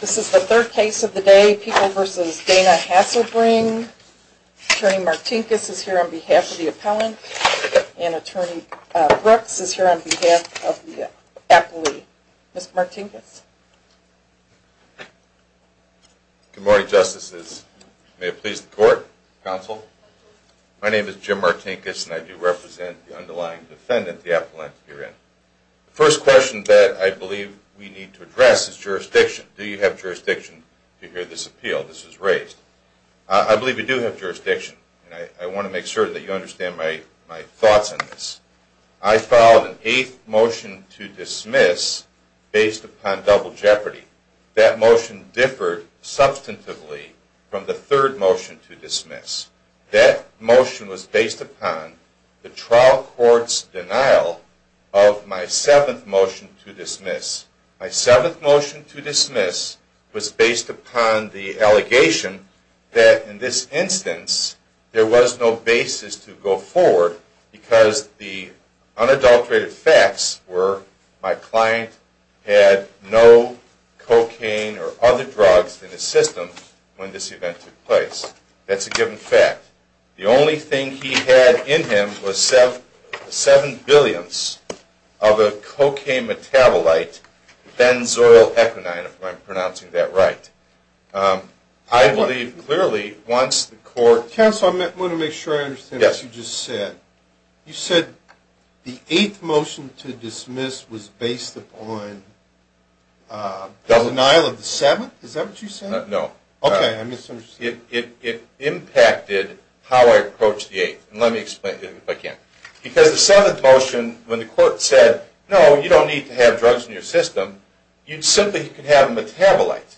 This is the third case of the day. People v. Dana Hasselbring. Attorney Martinkus is here on behalf of the appellant and Attorney Brooks is here on behalf of the appellee. Mr. Martinkus. Good morning, Justices. May it please the Court, Counsel. My name is Jim Martinkus and I do represent the underlying defendant, the appellant, herein. The first question that I believe we need to address is jurisdiction. Do you have jurisdiction to hear this appeal? This was raised. I believe you do have jurisdiction and I want to make sure that you understand my thoughts on this. I filed an eighth motion to dismiss based upon double jeopardy. That motion differed substantively from the third motion to dismiss. That motion was based upon the trial court's denial of my seventh motion to dismiss. My seventh motion to dismiss was based upon the allegation that in this instance there was no basis to go forward because the unadulterated facts were my client had no cocaine or other drugs in his system when this event took place. That's a given fact. The only thing he had in him was seven billionths of a cocaine metabolite, benzoyl equinine, if I'm pronouncing that right. I believe clearly once the court… Counsel, I want to make sure I understand what you just said. You said the eighth motion to dismiss was based upon the denial of the seventh? Is that what you said? No. Okay, I misunderstood. It impacted how I approached the eighth. Let me explain it again. Because the seventh motion, when the court said, no, you don't need to have drugs in your system, you simply could have a metabolite.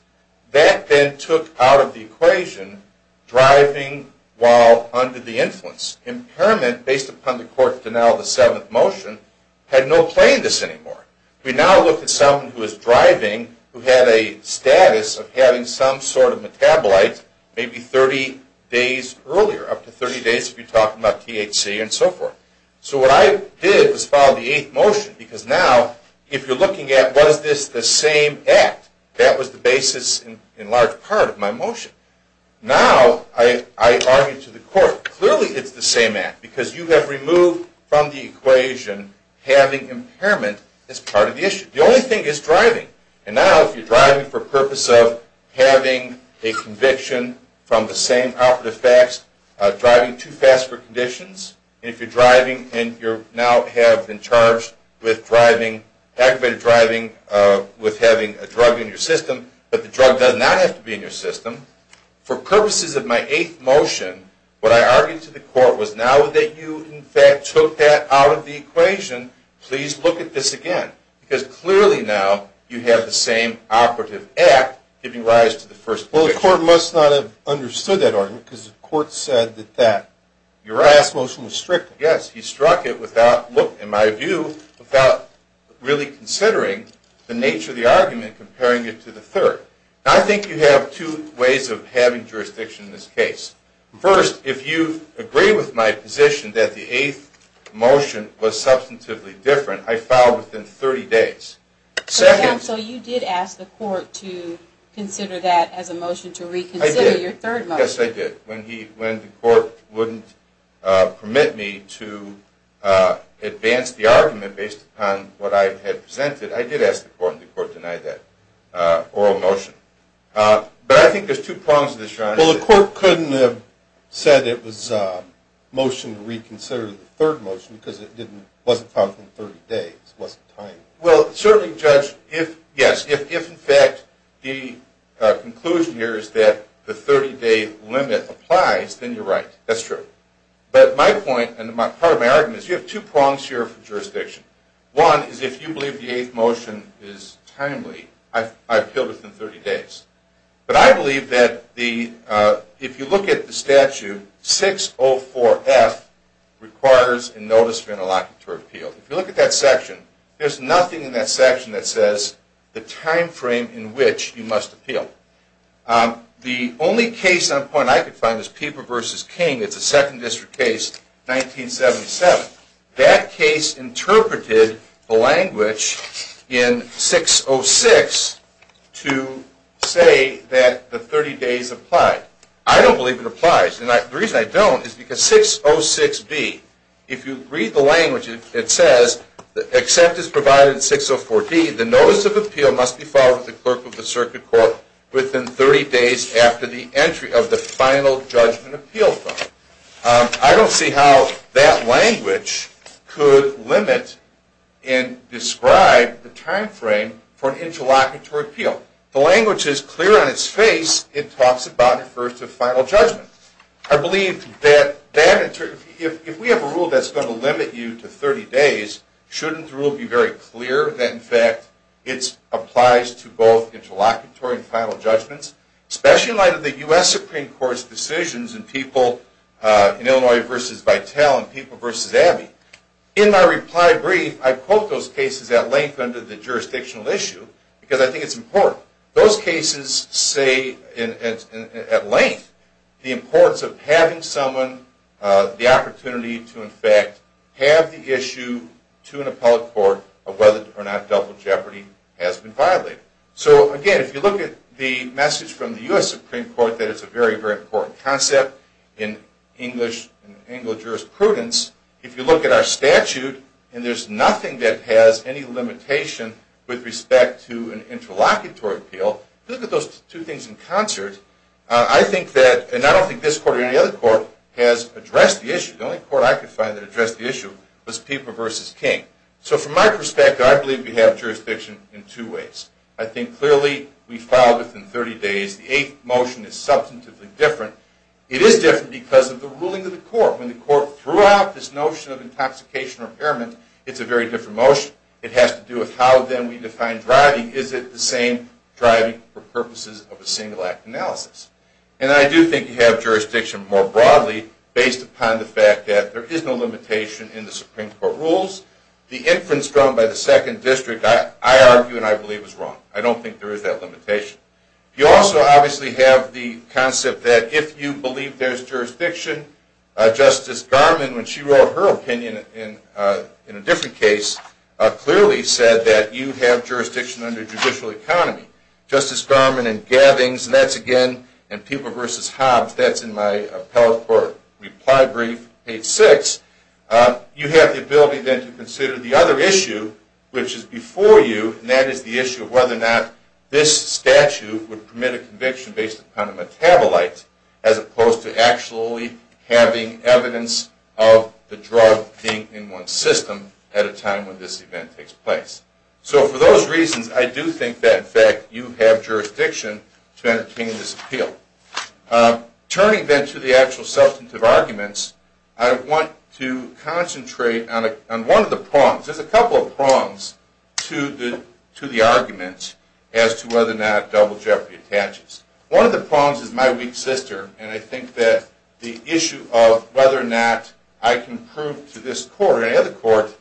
That then took out of the equation driving while under the influence. Impairment based upon the court's denial of the seventh motion had no place in this anymore. We now look at someone who is driving who had a status of having some sort of metabolite maybe 30 days earlier, up to 30 days if you're talking about THC and so forth. So what I did was follow the eighth motion because now if you're looking at was this the same act, that was the basis in large part of my motion. Now I argue to the court, clearly it's the same act because you have removed from the equation having impairment as part of the issue. The only thing is driving. And now if you're driving for purpose of having a conviction from the same operative facts, driving too fast for conditions, and if you're driving and you now have been charged with driving, aggravated driving with having a drug in your system, but the drug does not have to be in your system. For purposes of my eighth motion, what I argued to the court was now that you in fact took that out of the equation, please look at this again. Because clearly now you have the same operative act giving rise to the first conviction. Well the court must not have understood that argument because the court said that your last motion was strict. Yes, he struck it without, in my view, without really considering the nature of the argument comparing it to the third. Now I think you have two ways of having jurisdiction in this case. First, if you agree with my position that the eighth motion was substantively different, I file within 30 days. So you did ask the court to consider that as a motion to reconsider your third motion. Yes, I did. When the court wouldn't permit me to advance the argument based upon what I had presented, I did ask the court and the court denied that. But I think there's two prongs to this, John. Well, the court couldn't have said it was a motion to reconsider the third motion because it wasn't found within 30 days. Well, certainly, Judge, yes, if in fact the conclusion here is that the 30-day limit applies, then you're right. That's true. But my point and part of my argument is you have two prongs here for jurisdiction. One is if you believe the eighth motion is timely, I appeal within 30 days. But I believe that if you look at the statute, 604F requires a notice of interlocutor appeal. If you look at that section, there's nothing in that section that says the time frame in which you must appeal. The only case on point I could find is Pieper v. King. It's a Second District case, 1977. That case interpreted the language in 606 to say that the 30 days apply. I don't believe it applies. And the reason I don't is because 606B, if you read the language, it says, except as provided in 604D, the notice of appeal must be followed by the clerk of the circuit court within 30 days after the entry of the final judgment appeal. I don't see how that language could limit and describe the time frame for an interlocutory appeal. The language is clear on its face. It talks about and refers to final judgment. I believe that if we have a rule that's going to limit you to 30 days, shouldn't the rule be very clear that, in fact, it applies to both interlocutory and final judgments? Especially in light of the U.S. Supreme Court's decisions in Illinois v. Vitale and Pieper v. Abbey. In my reply brief, I quote those cases at length under the jurisdictional issue because I think it's important. Those cases say at length the importance of having someone the opportunity to, in fact, have the issue to an appellate court of whether or not double jeopardy has been violated. So, again, if you look at the message from the U.S. Supreme Court that it's a very, very important concept in English and Anglo-Jurisprudence, if you look at our statute and there's nothing that has any limitation with respect to an interlocutory appeal, if you look at those two things in concert, I think that, and I don't think this court or any other court has addressed the issue. The only court I could find that addressed the issue was Pieper v. King. So from my perspective, I believe we have jurisdiction in two ways. I think clearly we filed within 30 days. The eighth motion is substantively different. It is different because of the ruling of the court. When the court threw out this notion of intoxication or impairment, it's a very different motion. It has to do with how, then, we define driving. Is it the same driving for purposes of a single-act analysis? And I do think you have jurisdiction more broadly based upon the fact that there is no limitation in the Supreme Court rules. The inference drawn by the Second District, I argue and I believe, is wrong. I don't think there is that limitation. You also obviously have the concept that if you believe there's jurisdiction, Justice Garmon, when she wrote her opinion in a different case, clearly said that you have jurisdiction under judicial economy. Justice Garmon and Gavings, and that's again in Pieper v. Hobbs, that's in my appellate court reply brief, page 6, you have the ability, then, to consider the other issue, which is before you, and that is the issue of whether or not this statute would permit a conviction based upon a metabolite as opposed to actually having evidence of the drug being in one system at a time when this event takes place. So for those reasons, I do think that, in fact, you have jurisdiction to entertain this appeal. Turning, then, to the actual substantive arguments, I want to concentrate on one of the prongs. There's a couple of prongs to the argument as to whether or not double jeopardy attaches. One of the prongs is my weak sister, and I think that the issue of whether or not I can prove to this court or any other court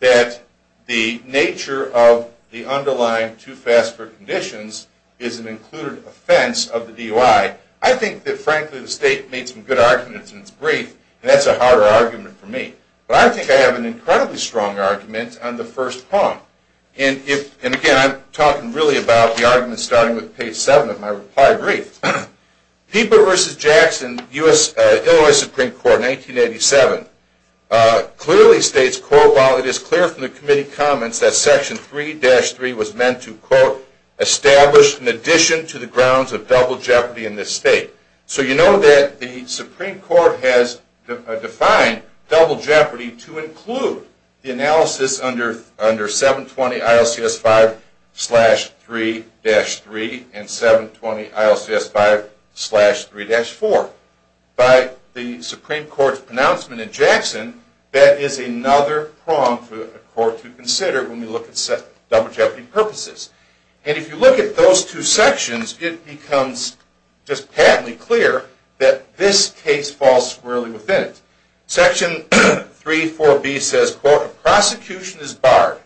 that the nature of the underlying too fast for conditions is an included offense of the DUI. I think that, frankly, the state made some good arguments in its brief, and that's a harder argument for me. But I think I have an incredibly strong argument on the first prong. And again, I'm talking really about the argument starting with page 7 of my reply brief. Peeper v. Jackson, Illinois Supreme Court, 1987, clearly states, quote, while it is clear from the committee comments that section 3-3 was meant to, quote, establish an addition to the grounds of double jeopardy in this state. So you know that the Supreme Court has defined double jeopardy to include the analysis under 720 ILCS 5-3-3 and 720 ILCS 5-3-4. By the Supreme Court's pronouncement in Jackson, that is another prong for a court to consider when we look at double jeopardy purposes. And if you look at those two sections, it becomes just patently clear that this case falls squarely within it. Section 3-4b says, quote, a prosecution is barred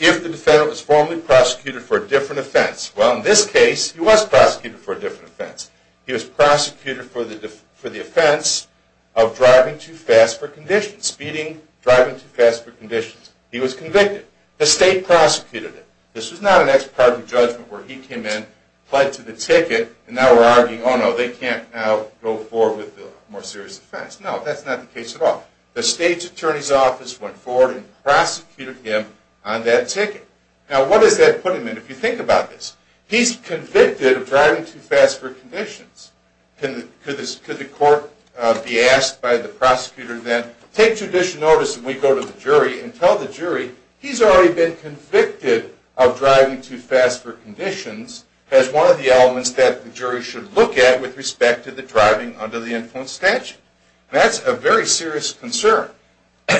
if the defendant was formally prosecuted for a different offense. Well, in this case, he was prosecuted for a different offense. He was prosecuted for the offense of driving too fast for conditions, speeding, driving too fast for conditions. He was convicted. The state prosecuted him. This was not an ex parte judgment where he came in, pled to the ticket, and now we're arguing, oh, no, they can't now go forward with a more serious offense. No, that's not the case at all. The state's attorney's office went forward and prosecuted him on that ticket. Now, what does that put him in if you think about this? He's convicted of driving too fast for conditions. Could the court be asked by the prosecutor then, take judicial notice and we go to the jury and tell the jury, he's already been convicted of driving too fast for conditions as one of the elements that the jury should look at with respect to the driving under the influence statute? That's a very serious concern.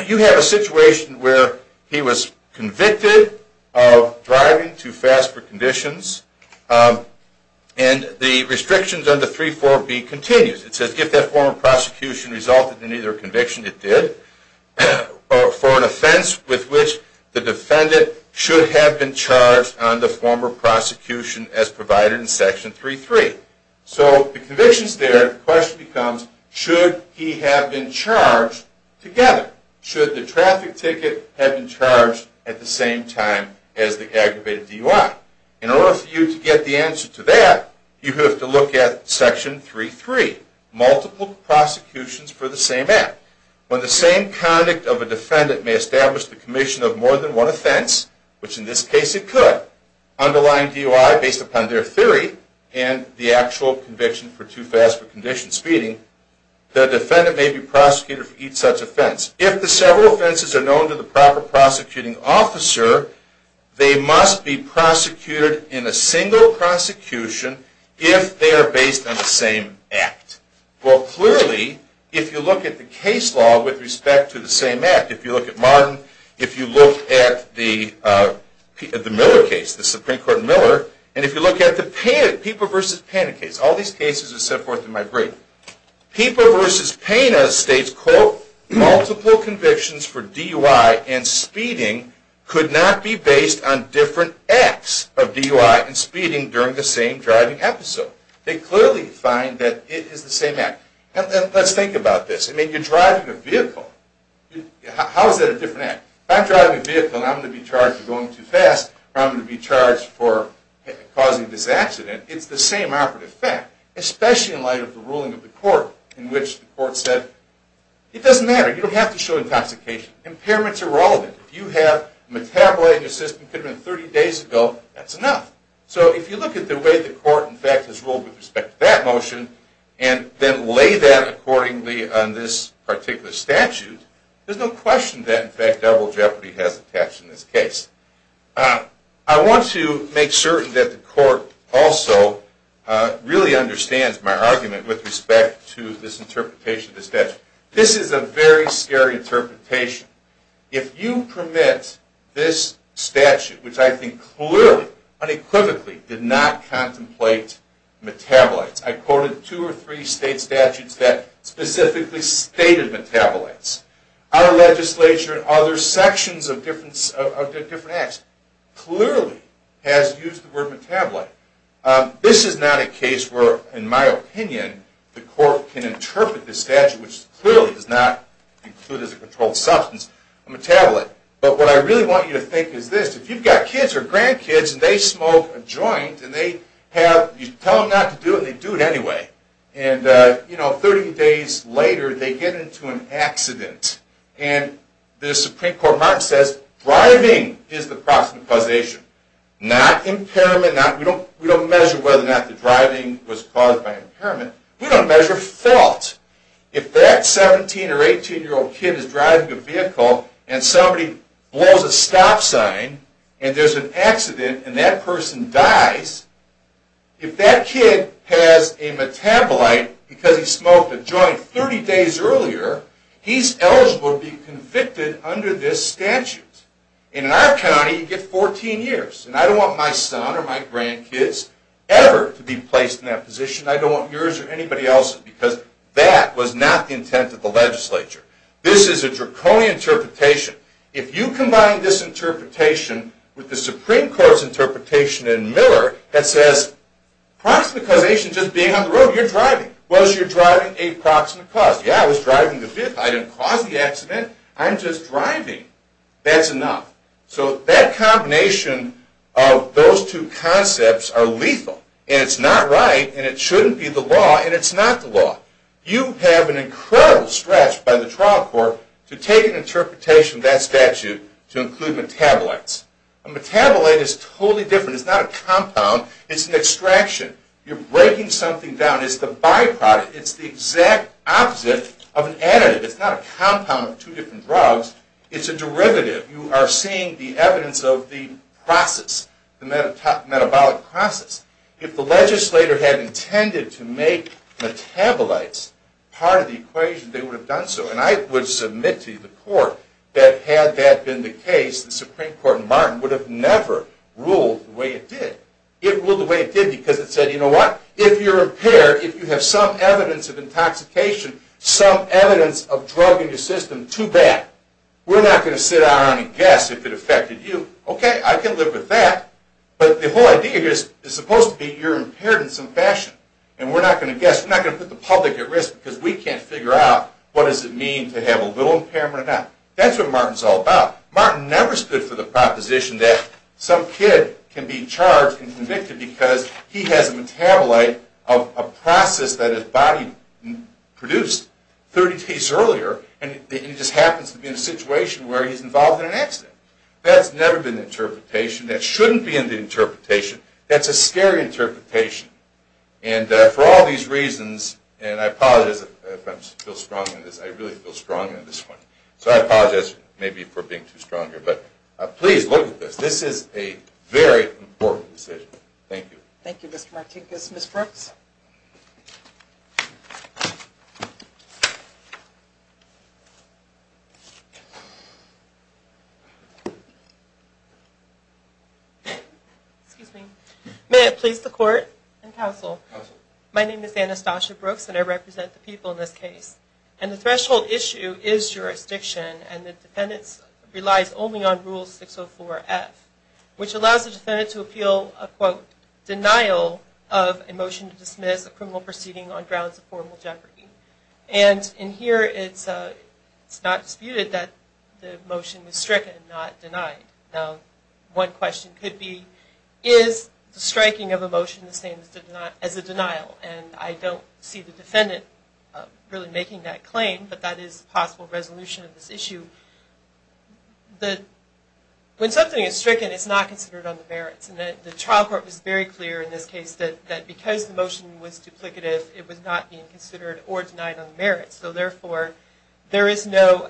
You have a situation where he was convicted of driving too fast for conditions, and the restrictions under 3-4b continues. It says, if that former prosecution resulted in either conviction, it did, for an offense with which the defendant should have been charged on the former prosecution as provided in Section 3-3. So the conviction's there. The question becomes, should he have been charged together? Should the traffic ticket have been charged at the same time as the aggravated DUI? In order for you to get the answer to that, you have to look at Section 3-3, multiple prosecutions for the same act. When the same conduct of a defendant may establish the commission of more than one offense, which in this case it could, underlying DUI based upon their theory and the actual conviction for too fast for conditions speeding, the defendant may be prosecuted for each such offense. If the several offenses are known to the proper prosecuting officer, they must be prosecuted in a single prosecution if they are based on the same act. Well, clearly, if you look at the case law with respect to the same act, if you look at Martin, if you look at the Miller case, the Supreme Court Miller, and if you look at the Pippa v. Pena case, all these cases are set forth in my brief, Pippa v. Pena states, quote, multiple convictions for DUI and speeding could not be based on different acts of DUI and speeding during the same driving episode. They clearly find that it is the same act. Let's think about this. I mean, you're driving a vehicle. How is that a different act? If I'm driving a vehicle and I'm going to be charged for going too fast, or I'm going to be charged for causing this accident, it's the same operative fact, especially in light of the ruling of the court, in which the court said, it doesn't matter. You don't have to show intoxication. Impairments are relevant. If you have metabolite in your system that could have been 30 days ago, that's enough. So if you look at the way the court, in fact, has ruled with respect to that motion, and then lay that accordingly on this particular statute, there's no question that, in fact, double jeopardy has attached in this case. I want to make certain that the court also really understands my argument with respect to this interpretation of the statute. This is a very scary interpretation. If you permit this statute, which I think clearly, unequivocally, did not contemplate metabolites. I quoted two or three state statutes that specifically stated metabolites. Our legislature and other sections of different acts clearly has used the word metabolite. This is not a case where, in my opinion, the court can interpret this statute, which clearly does not include as a controlled substance, a metabolite. But what I really want you to think is this. If you've got kids or grandkids, and they smoke a joint, and you tell them not to do it, and they do it anyway, and 30 days later, they get into an accident, and the Supreme Court of America says, driving is the cause of causation, not impairment. We don't measure whether or not the driving was caused by impairment. We don't measure fault. If that 17- or 18-year-old kid is driving a vehicle, and somebody blows a stop sign, and there's an accident, and that person dies, if that kid has a metabolite because he smoked a joint 30 days earlier, he's eligible to be convicted under this statute. And in our county, you get 14 years. And I don't want my son or my grandkids ever to be placed in that position. I don't want yours or anybody else's, because that was not the intent of the legislature. This is a draconian interpretation. If you combine this interpretation with the Supreme Court's interpretation in Miller that says, proximate causation is just being on the road. You're driving. Was your driving a proximate cause? Yeah, I was driving the vehicle. I didn't cause the accident. I'm just driving. That's enough. So that combination of those two concepts are lethal. And it's not right, and it shouldn't be the law, and it's not the law. You have an incredible stretch by the trial court to take an interpretation of that statute to include metabolites. A metabolite is totally different. It's not a compound. It's an extraction. You're breaking something down. It's the byproduct. It's the exact opposite of an additive. It's not a compound of two different drugs. It's a derivative. You are seeing the evidence of the process, the metabolic process. If the legislator had intended to make metabolites part of the equation, they would have done so. And I would submit to the court that had that been the case, the Supreme Court in Martin would have never ruled the way it did. It ruled the way it did because it said, you know what? If you're impaired, if you have some evidence of intoxication, some evidence of drug in your system, too bad. We're not going to sit around and guess if it affected you. Okay, I can live with that. But the whole idea here is it's supposed to be you're impaired in some fashion. And we're not going to guess. We're not going to put the public at risk because we can't figure out what does it mean to have a little impairment or not. That's what Martin's all about. Martin never stood for the proposition that some kid can be charged and convicted because he has a metabolite of a process that his body produced 30 days earlier, and it just happens to be in a situation where he's involved in an accident. That's never been the interpretation. That shouldn't be in the interpretation. That's a scary interpretation. And for all these reasons, and I apologize if I feel strong in this, I really feel strong in this one. So I apologize maybe for being too strong here. But please look at this. This is a very important decision. Thank you. Thank you, Mr. Martinkus. Ms. Brooks? Excuse me. May it please the court and counsel. My name is Anastasia Brooks, and I represent the people in this case. And the threshold issue is jurisdiction, and the defendant relies only on Rule 604F, which allows the defendant to appeal a, quote, denial of a motion to dismiss a criminal proceeding on grounds of formal jeopardy. And in here, it's not disputed that the motion was stricken, not denied. Now, one question could be, is the striking of a motion the same as a denial? And I don't see the defendant really making that claim, but that is a possible resolution of this issue. When something is stricken, it's not considered on the merits. And the trial court was very clear in this case that because the motion was duplicative, it was not being considered or denied on the merits. So therefore, there is no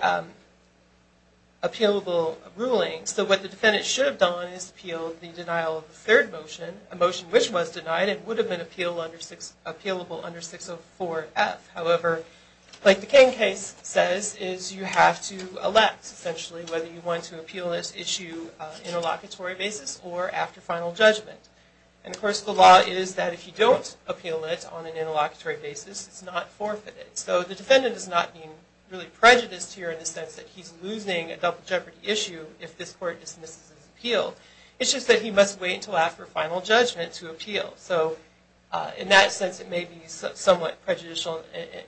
appealable ruling. So what the defendant should have done is appealed the denial of the third motion, a motion which was denied, and would have been appealable under 604F. However, like the King case says, is you have to elect, essentially, whether you want to appeal this issue on an interlocutory basis or after final judgment. And of course, the law is that if you don't appeal it on an interlocutory basis, it's not forfeited. So the defendant is not being really prejudiced here in the sense that he's losing a double jeopardy issue if this court dismisses his appeal. It's just that he must wait until after final judgment to appeal. So in that sense, it may be somewhat prejudicial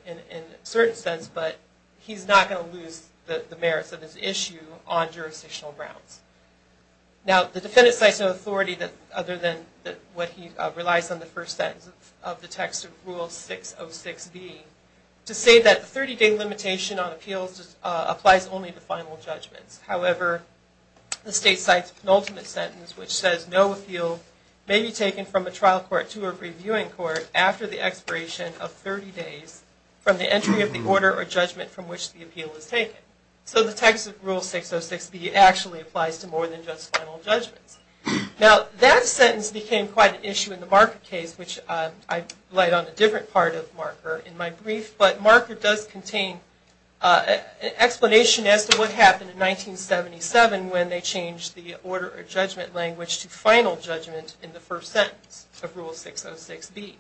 in a certain sense, but he's not going to lose the merits of his issue on jurisdictional grounds. Now, the defendant cites no authority other than what he relies on the first sentence of the text of Rule 606B to say that the 30-day limitation on appeals applies only to final judgments. However, the state cites the penultimate sentence, which says, no appeal may be taken from a trial court to a reviewing court after the expiration of 30 days from the entry of the order or judgment from which the appeal was taken. So the text of Rule 606B actually applies to more than just final judgments. Now, that sentence became quite an issue in the Marker case, which I laid on a different part of Marker in my brief. But Marker does contain an explanation as to what happened in 1977 when they changed the order or judgment language to final judgment in the first sentence of Rule 606B.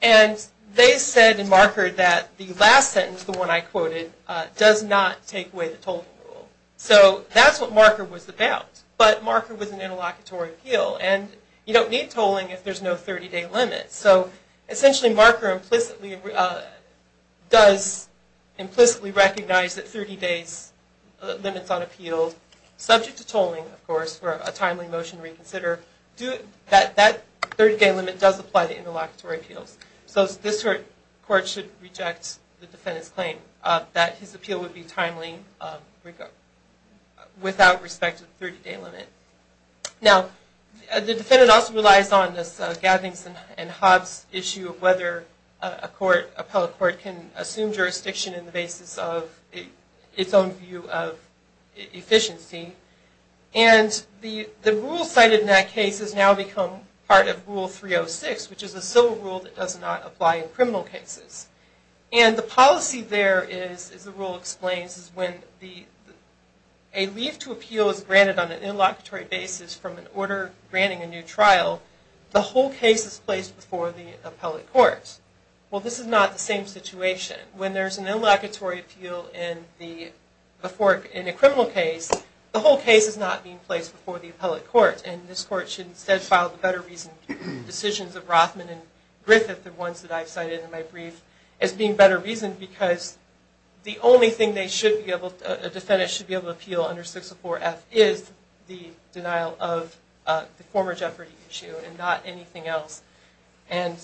And they said in Marker that the last sentence, the one I quoted, does not take away the tolling rule. So that's what Marker was about. But Marker was an interlocutory appeal, and you don't need tolling if there's no 30-day limit. So essentially, Marker implicitly does implicitly recognize that 30 days limits on appeals, subject to tolling, of course, for a timely motion reconsider, that 30-day limit does apply to interlocutory appeals. So this court should reject the defendant's claim that his appeal would be timely without respect to the 30-day limit. Now, the defendant also relies on this Gavings and Hobbs issue of whether a court, appellate court, can assume jurisdiction in the basis of its own view of efficiency. And the rule cited in that case has now become part of Rule 306, which is a civil rule that does not apply in criminal cases. And the policy there, as the rule explains, is when a leave to appeal is granted on an interlocutory basis from an order granting a new trial, the whole case is placed before the appellate court. Well, this is not the same situation. When there's an interlocutory appeal in a criminal case, the whole case is not being placed before the appellate court. And this court should instead file the better reasoned decisions of Rothman and Griffith, the ones that I've cited in my brief, as being better reasoned because the only thing a defendant should be able to appeal under 604F is the denial of the former jeopardy issue and not anything else. And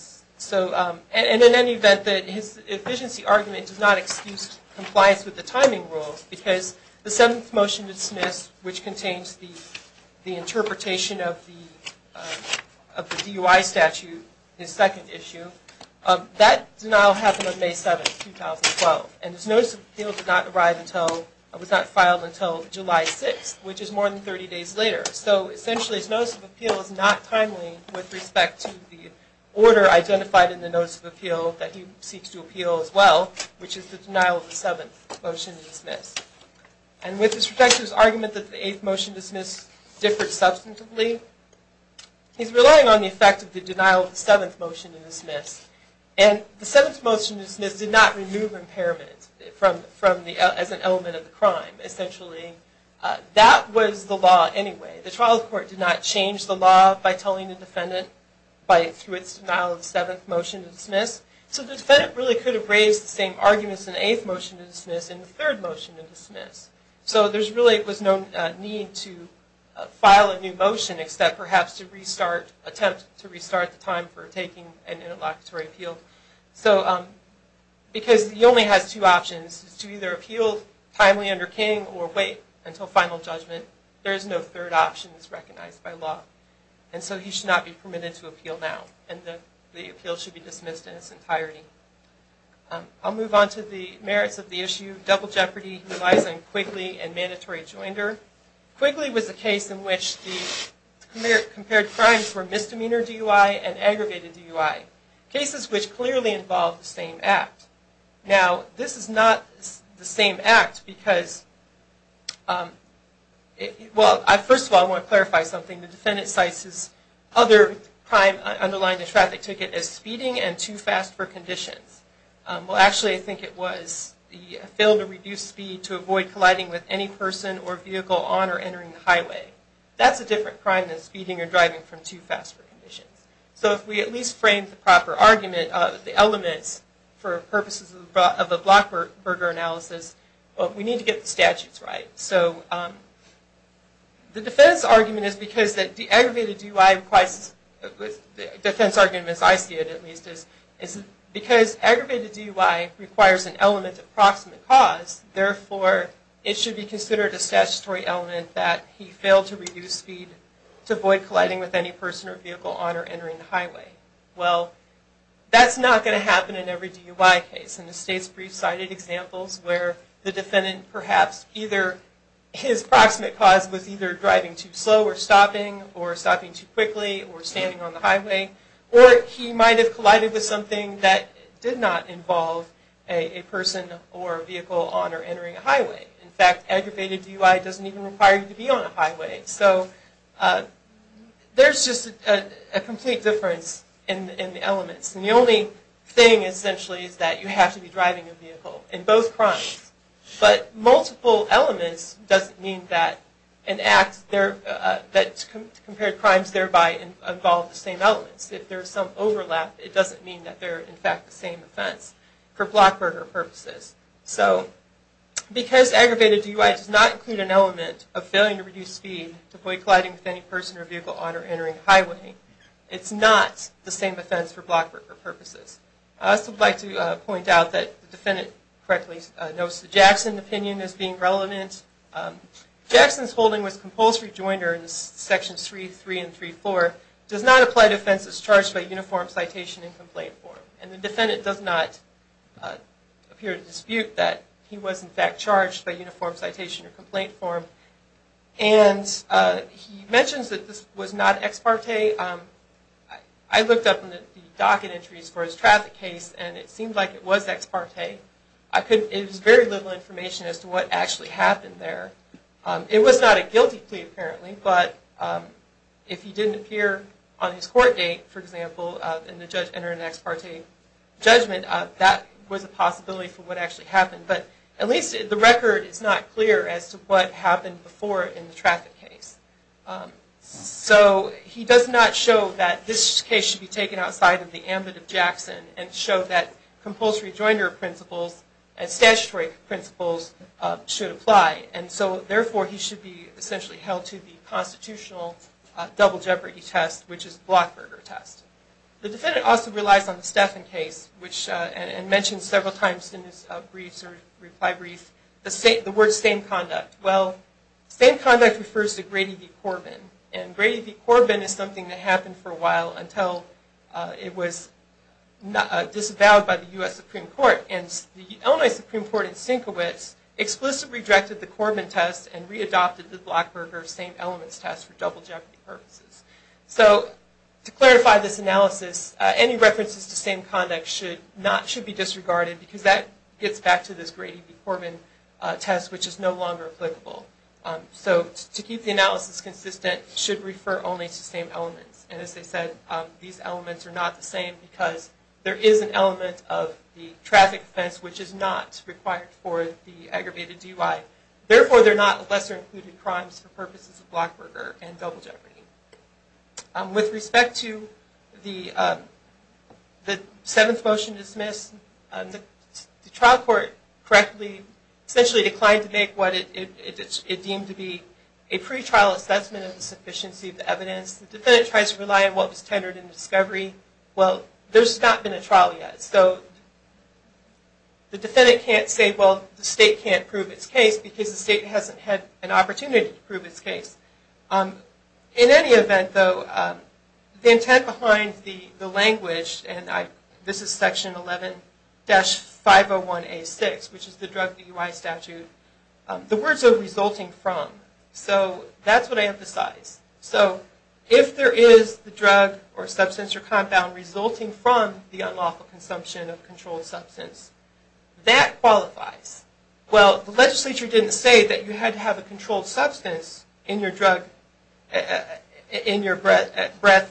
in any event, his efficiency argument does not excuse compliance with the timing rules because the seventh motion to dismiss, which contains the interpretation of the DUI statute, his second issue, that denial happened on May 7th, 2012. And his notice of appeal was not filed until July 6th, which is more than 30 days later. So essentially, his notice of appeal is not timely with respect to the order identified in the notice of appeal that he seeks to appeal as well, which is the denial of the seventh motion to dismiss. And with respect to his argument that the eighth motion to dismiss differed substantively, he's relying on the effect of the denial of the seventh motion to dismiss. And the seventh motion to dismiss did not remove impairment as an element of the crime, essentially. That was the law anyway. The trial court did not change the law by telling the defendant through its denial of the seventh motion to dismiss. So the defendant really could have raised the same arguments in the eighth motion to dismiss and the third motion to dismiss. So there really was no need to file a new motion except perhaps to restart, attempt to restart the time for taking an interlocutory appeal. So because he only has two options, to either appeal timely under King or wait until final judgment, there is no third option that's recognized by law. And so he should not be permitted to appeal now. And the appeal should be dismissed in its entirety. I'll move on to the merits of the issue. Double jeopardy relies on Quigley and mandatory joinder. Quigley was a case in which the compared crimes were misdemeanor DUI and aggravated DUI. Cases which clearly involve the same act. Now, this is not the same act because, well, first of all I want to clarify something. The defendant cites his other crime underlying the traffic ticket as speeding and too fast for conditions. Well, actually I think it was the fail to reduce speed to avoid colliding with any person or vehicle on or entering the highway. That's a different crime than speeding or driving from too fast for conditions. So if we at least frame the proper argument of the elements for purposes of a block burger analysis, we need to get the statutes right. So the defense argument is because the aggravated DUI requires, the defense argument as I see it at least, is because aggravated DUI requires an element of proximate cause, therefore it should be considered a statutory element that he failed to reduce speed to avoid colliding with any person or vehicle on or entering the highway. Well, that's not going to happen in every DUI case. And the state's brief cited examples where the defendant perhaps either, his proximate cause was either driving too slow or stopping or stopping too quickly or standing on the highway. Or he might have collided with something that did not involve a person or vehicle on or entering a highway. In fact, aggravated DUI doesn't even require you to be on a highway. So there's just a complete difference in the elements. And the only thing essentially is that you have to be driving a vehicle in both crimes. But multiple elements doesn't mean that an act that compared crimes thereby involve the same elements. If there's some overlap, it doesn't mean that they're in fact the same offense for block burger purposes. So because aggravated DUI does not include an element of failing to reduce speed to avoid colliding with any person or vehicle on or entering a highway, it's not the same offense for block burger purposes. I'd also like to point out that the defendant correctly knows that Jackson's opinion is being relevant. Jackson's holding was compulsory jointer in sections 3.3 and 3.4, does not apply to offenses charged by uniform citation in complaint form. And the defendant does not appear to dispute that he was in fact charged by uniform citation in complaint form. And he mentions that this was not ex parte. I looked up the docket entries for his traffic case, and it seemed like it was ex parte. There's very little information as to what actually happened there. It was not a guilty plea apparently, but if he didn't appear on his court date, for example, and the judge entered an ex parte judgment, that was a possibility for what actually happened. But at least the record is not clear as to what happened before in the traffic case. So he does not show that this case should be taken outside of the ambit of Jackson and show that compulsory jointer principles and statutory principles should apply. And so therefore he should be essentially held to the constitutional double jeopardy test, which is the Blockberger test. The defendant also relies on the Steffen case and mentions several times in his reply brief the word same conduct. Well, same conduct refers to Grady v. Corbin, and Grady v. Corbin is something that happened for a while until it was disavowed by the U.S. Supreme Court. And the Illinois Supreme Court in Senkiewicz explicitly rejected the Corbin test and readopted the Blockberger same elements test for double jeopardy purposes. So to clarify this analysis, any references to same conduct should be disregarded because that gets back to this Grady v. Corbin test, which is no longer applicable. So to keep the analysis consistent, it should refer only to same elements. And as I said, these elements are not the same because there is an element of the traffic offense which is not required for the aggravated DUI. Therefore, they're not lesser included crimes for purposes of Blockberger and double jeopardy. With respect to the seventh motion dismissed, the trial court correctly essentially declined to make what it deemed to be a pretrial assessment of the sufficiency of the evidence. The defendant tries to rely on what was tendered in discovery. Well, there's not been a trial yet, so the defendant can't say, well, the state can't prove its case because the state hasn't had an opportunity to prove its case. In any event, though, the intent behind the language, and this is Section 11-501A6, which is the drug DUI statute, the words are resulting from. So that's what I emphasize. So if there is the drug or substance or compound resulting from the unlawful consumption of controlled substance, that qualifies. Well, the legislature didn't say that you had to have a controlled substance in your breath,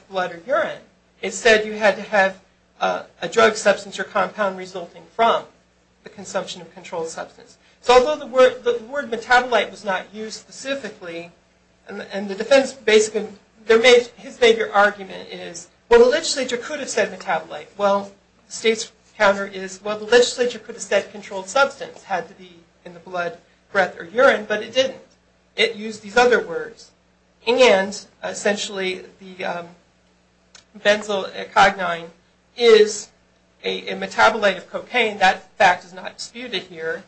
blood, or urine. It said you had to have a drug, substance, or compound resulting from the consumption of controlled substance. So although the word metabolite was not used specifically, and the defense basically, his major argument is, well, the legislature could have said metabolite. Well, the state's counter is, well, the legislature could have said controlled substance had to be in the blood, breath, or urine, but it didn't. It used these other words. And, essentially, the benzoyl-ecognine is a metabolite of cocaine. That fact is not disputed here.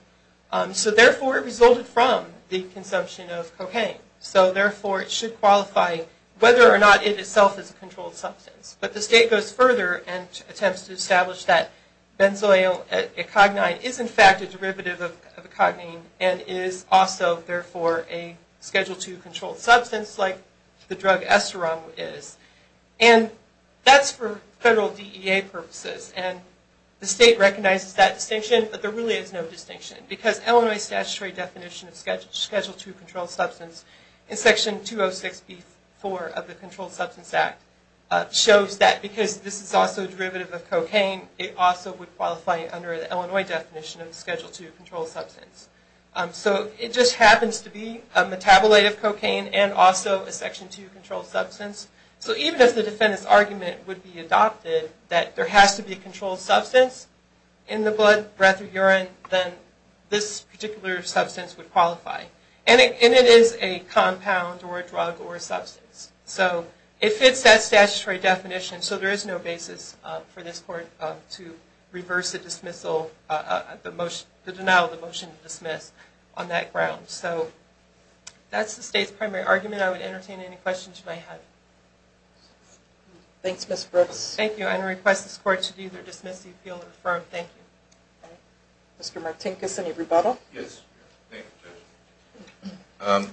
So, therefore, it resulted from the consumption of cocaine. So, therefore, it should qualify whether or not it itself is a controlled substance. But the state goes further and attempts to establish that benzoyl-ecognine is, in fact, a derivative of ecognine and is also, therefore, a Schedule II controlled substance, like the drug Esteron is. And that's for federal DEA purposes, and the state recognizes that distinction, but there really is no distinction because Illinois statutory definition of Schedule II controlled substance in Section 206b-4 of the Controlled Substance Act shows that because this is also a derivative of cocaine, it also would qualify under the Illinois definition of Schedule II controlled substance. So it just happens to be a metabolite of cocaine and also a Section II controlled substance. So even if the defendant's argument would be adopted that there has to be a controlled substance in the blood, breath, or urine, then this particular substance would qualify. And it is a compound or a drug or a substance. So it fits that statutory definition. So there is no basis for this Court to reverse the denial of the motion to dismiss on that ground. So that's the state's primary argument. I would entertain any questions you might have. Thanks, Ms. Brooks. Thank you. I'm going to request this Court to either dismiss the appeal or refer him. Thank you. Mr. Martinkus, any rebuttal? Yes. I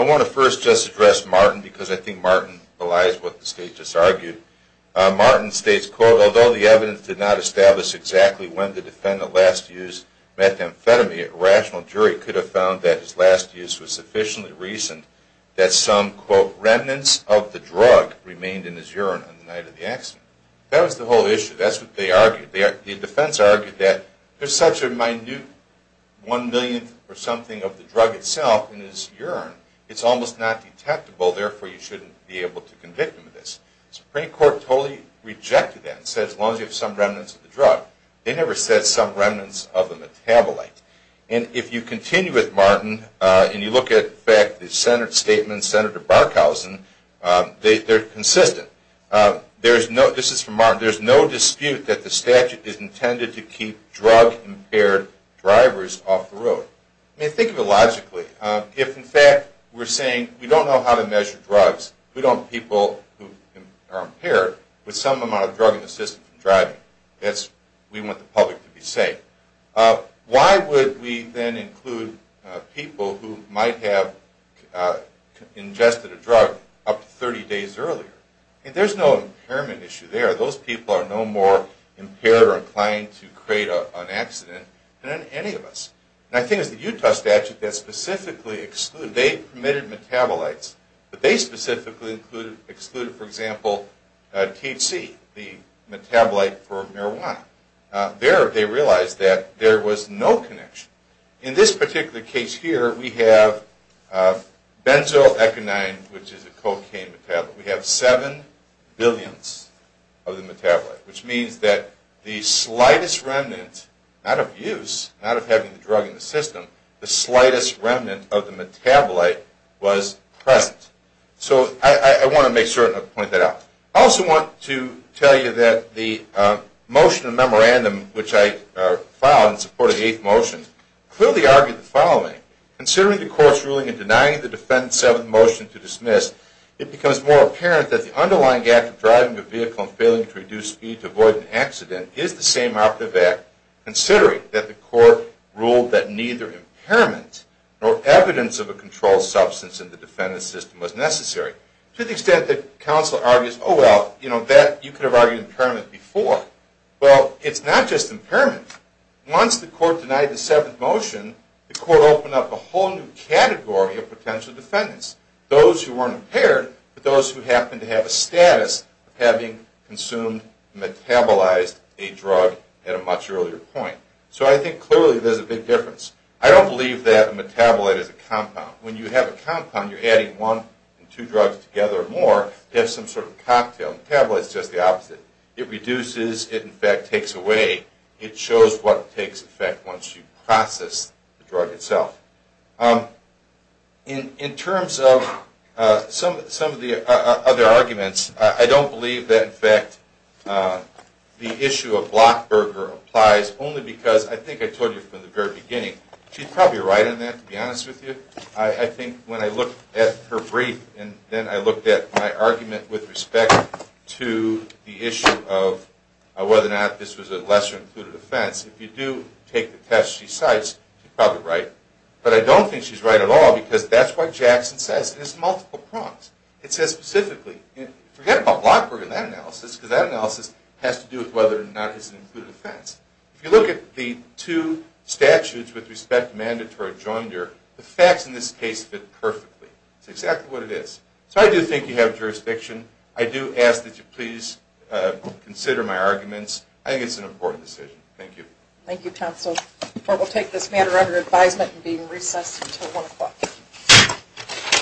want to first just address Martin because I think Martin belies what the State just argued. Martin states, quote, Although the evidence did not establish exactly when the defendant last used methamphetamine, a rational jury could have found that his last use was sufficiently recent that some, quote, remnants of the drug remained in his urine on the night of the accident. That was the whole issue. That's what they argued. The defense argued that there's such a minute one-millionth or something of the drug itself in his urine, it's almost not detectable, therefore you shouldn't be able to convict him of this. The Supreme Court totally rejected that and said as long as you have some remnants of the drug. They never said some remnants of the metabolite. And if you continue with Martin and you look at, in fact, the Senate statement, Senator Barkhausen, they're consistent. This is from Martin. There's no dispute that the statute is intended to keep drug-impaired drivers off the road. I mean, think of it logically. If, in fact, we're saying we don't know how to measure drugs, we don't have people who are impaired with some amount of drug-assisted driving. That's what we want the public to be safe. Why would we then include people who might have ingested a drug up to 30 days earlier? I mean, there's no impairment issue there. Those people are no more impaired or inclined to create an accident than any of us. And I think it's the Utah statute that specifically excluded. They permitted metabolites, but they specifically excluded, for example, THC, the metabolite for marijuana. There they realized that there was no connection. In this particular case here, we have benzoeconine, which is a cocaine metabolite. We have seven billionths of the metabolite, which means that the slightest remnant out of use, out of having the drug in the system, the slightest remnant of the metabolite was present. So I want to make certain I'll point that out. I also want to tell you that the motion of memorandum, which I filed in support of the eighth motion, clearly argued the following. Considering the court's ruling in denying the defendant's seventh motion to dismiss, it becomes more apparent that the underlying act of driving a vehicle and failing to reduce speed to avoid an accident is the same operative act, considering that the court ruled that neither impairment nor evidence of a controlled substance in the defendant's system was necessary, to the extent that counsel argues, oh, well, you could have argued impairment before. Well, it's not just impairment. Once the court denied the seventh motion, the court opened up a whole new category of potential defendants, those who weren't impaired, but those who happened to have a status of having consumed and metabolized a drug at a much earlier point. So I think clearly there's a big difference. I don't believe that a metabolite is a compound. When you have a compound, you're adding one and two drugs together or more to have some sort of cocktail. A metabolite is just the opposite. It reduces. It, in fact, takes away. It shows what takes effect once you process the drug itself. In terms of some of the other arguments, I don't believe that, in fact, the issue of Blockberger applies only because I think I told you from the very beginning, she's probably right on that, to be honest with you. I think when I looked at her brief and then I looked at my argument with respect to the issue of whether or not this was a lesser-included offense, if you do take the test she cites, she's probably right. But I don't think she's right at all because that's what Jackson says. It has multiple prongs. It says specifically, forget about Blockberger in that analysis because that analysis has to do with whether or not it's an included offense. If you look at the two statutes with respect to mandatory joinder, the facts in this case fit perfectly. It's exactly what it is. So I do think you have jurisdiction. I do ask that you please consider my arguments. I think it's an important decision. Thank you. Thank you, counsel. The court will take this matter under advisement and be in recess until 1 o'clock.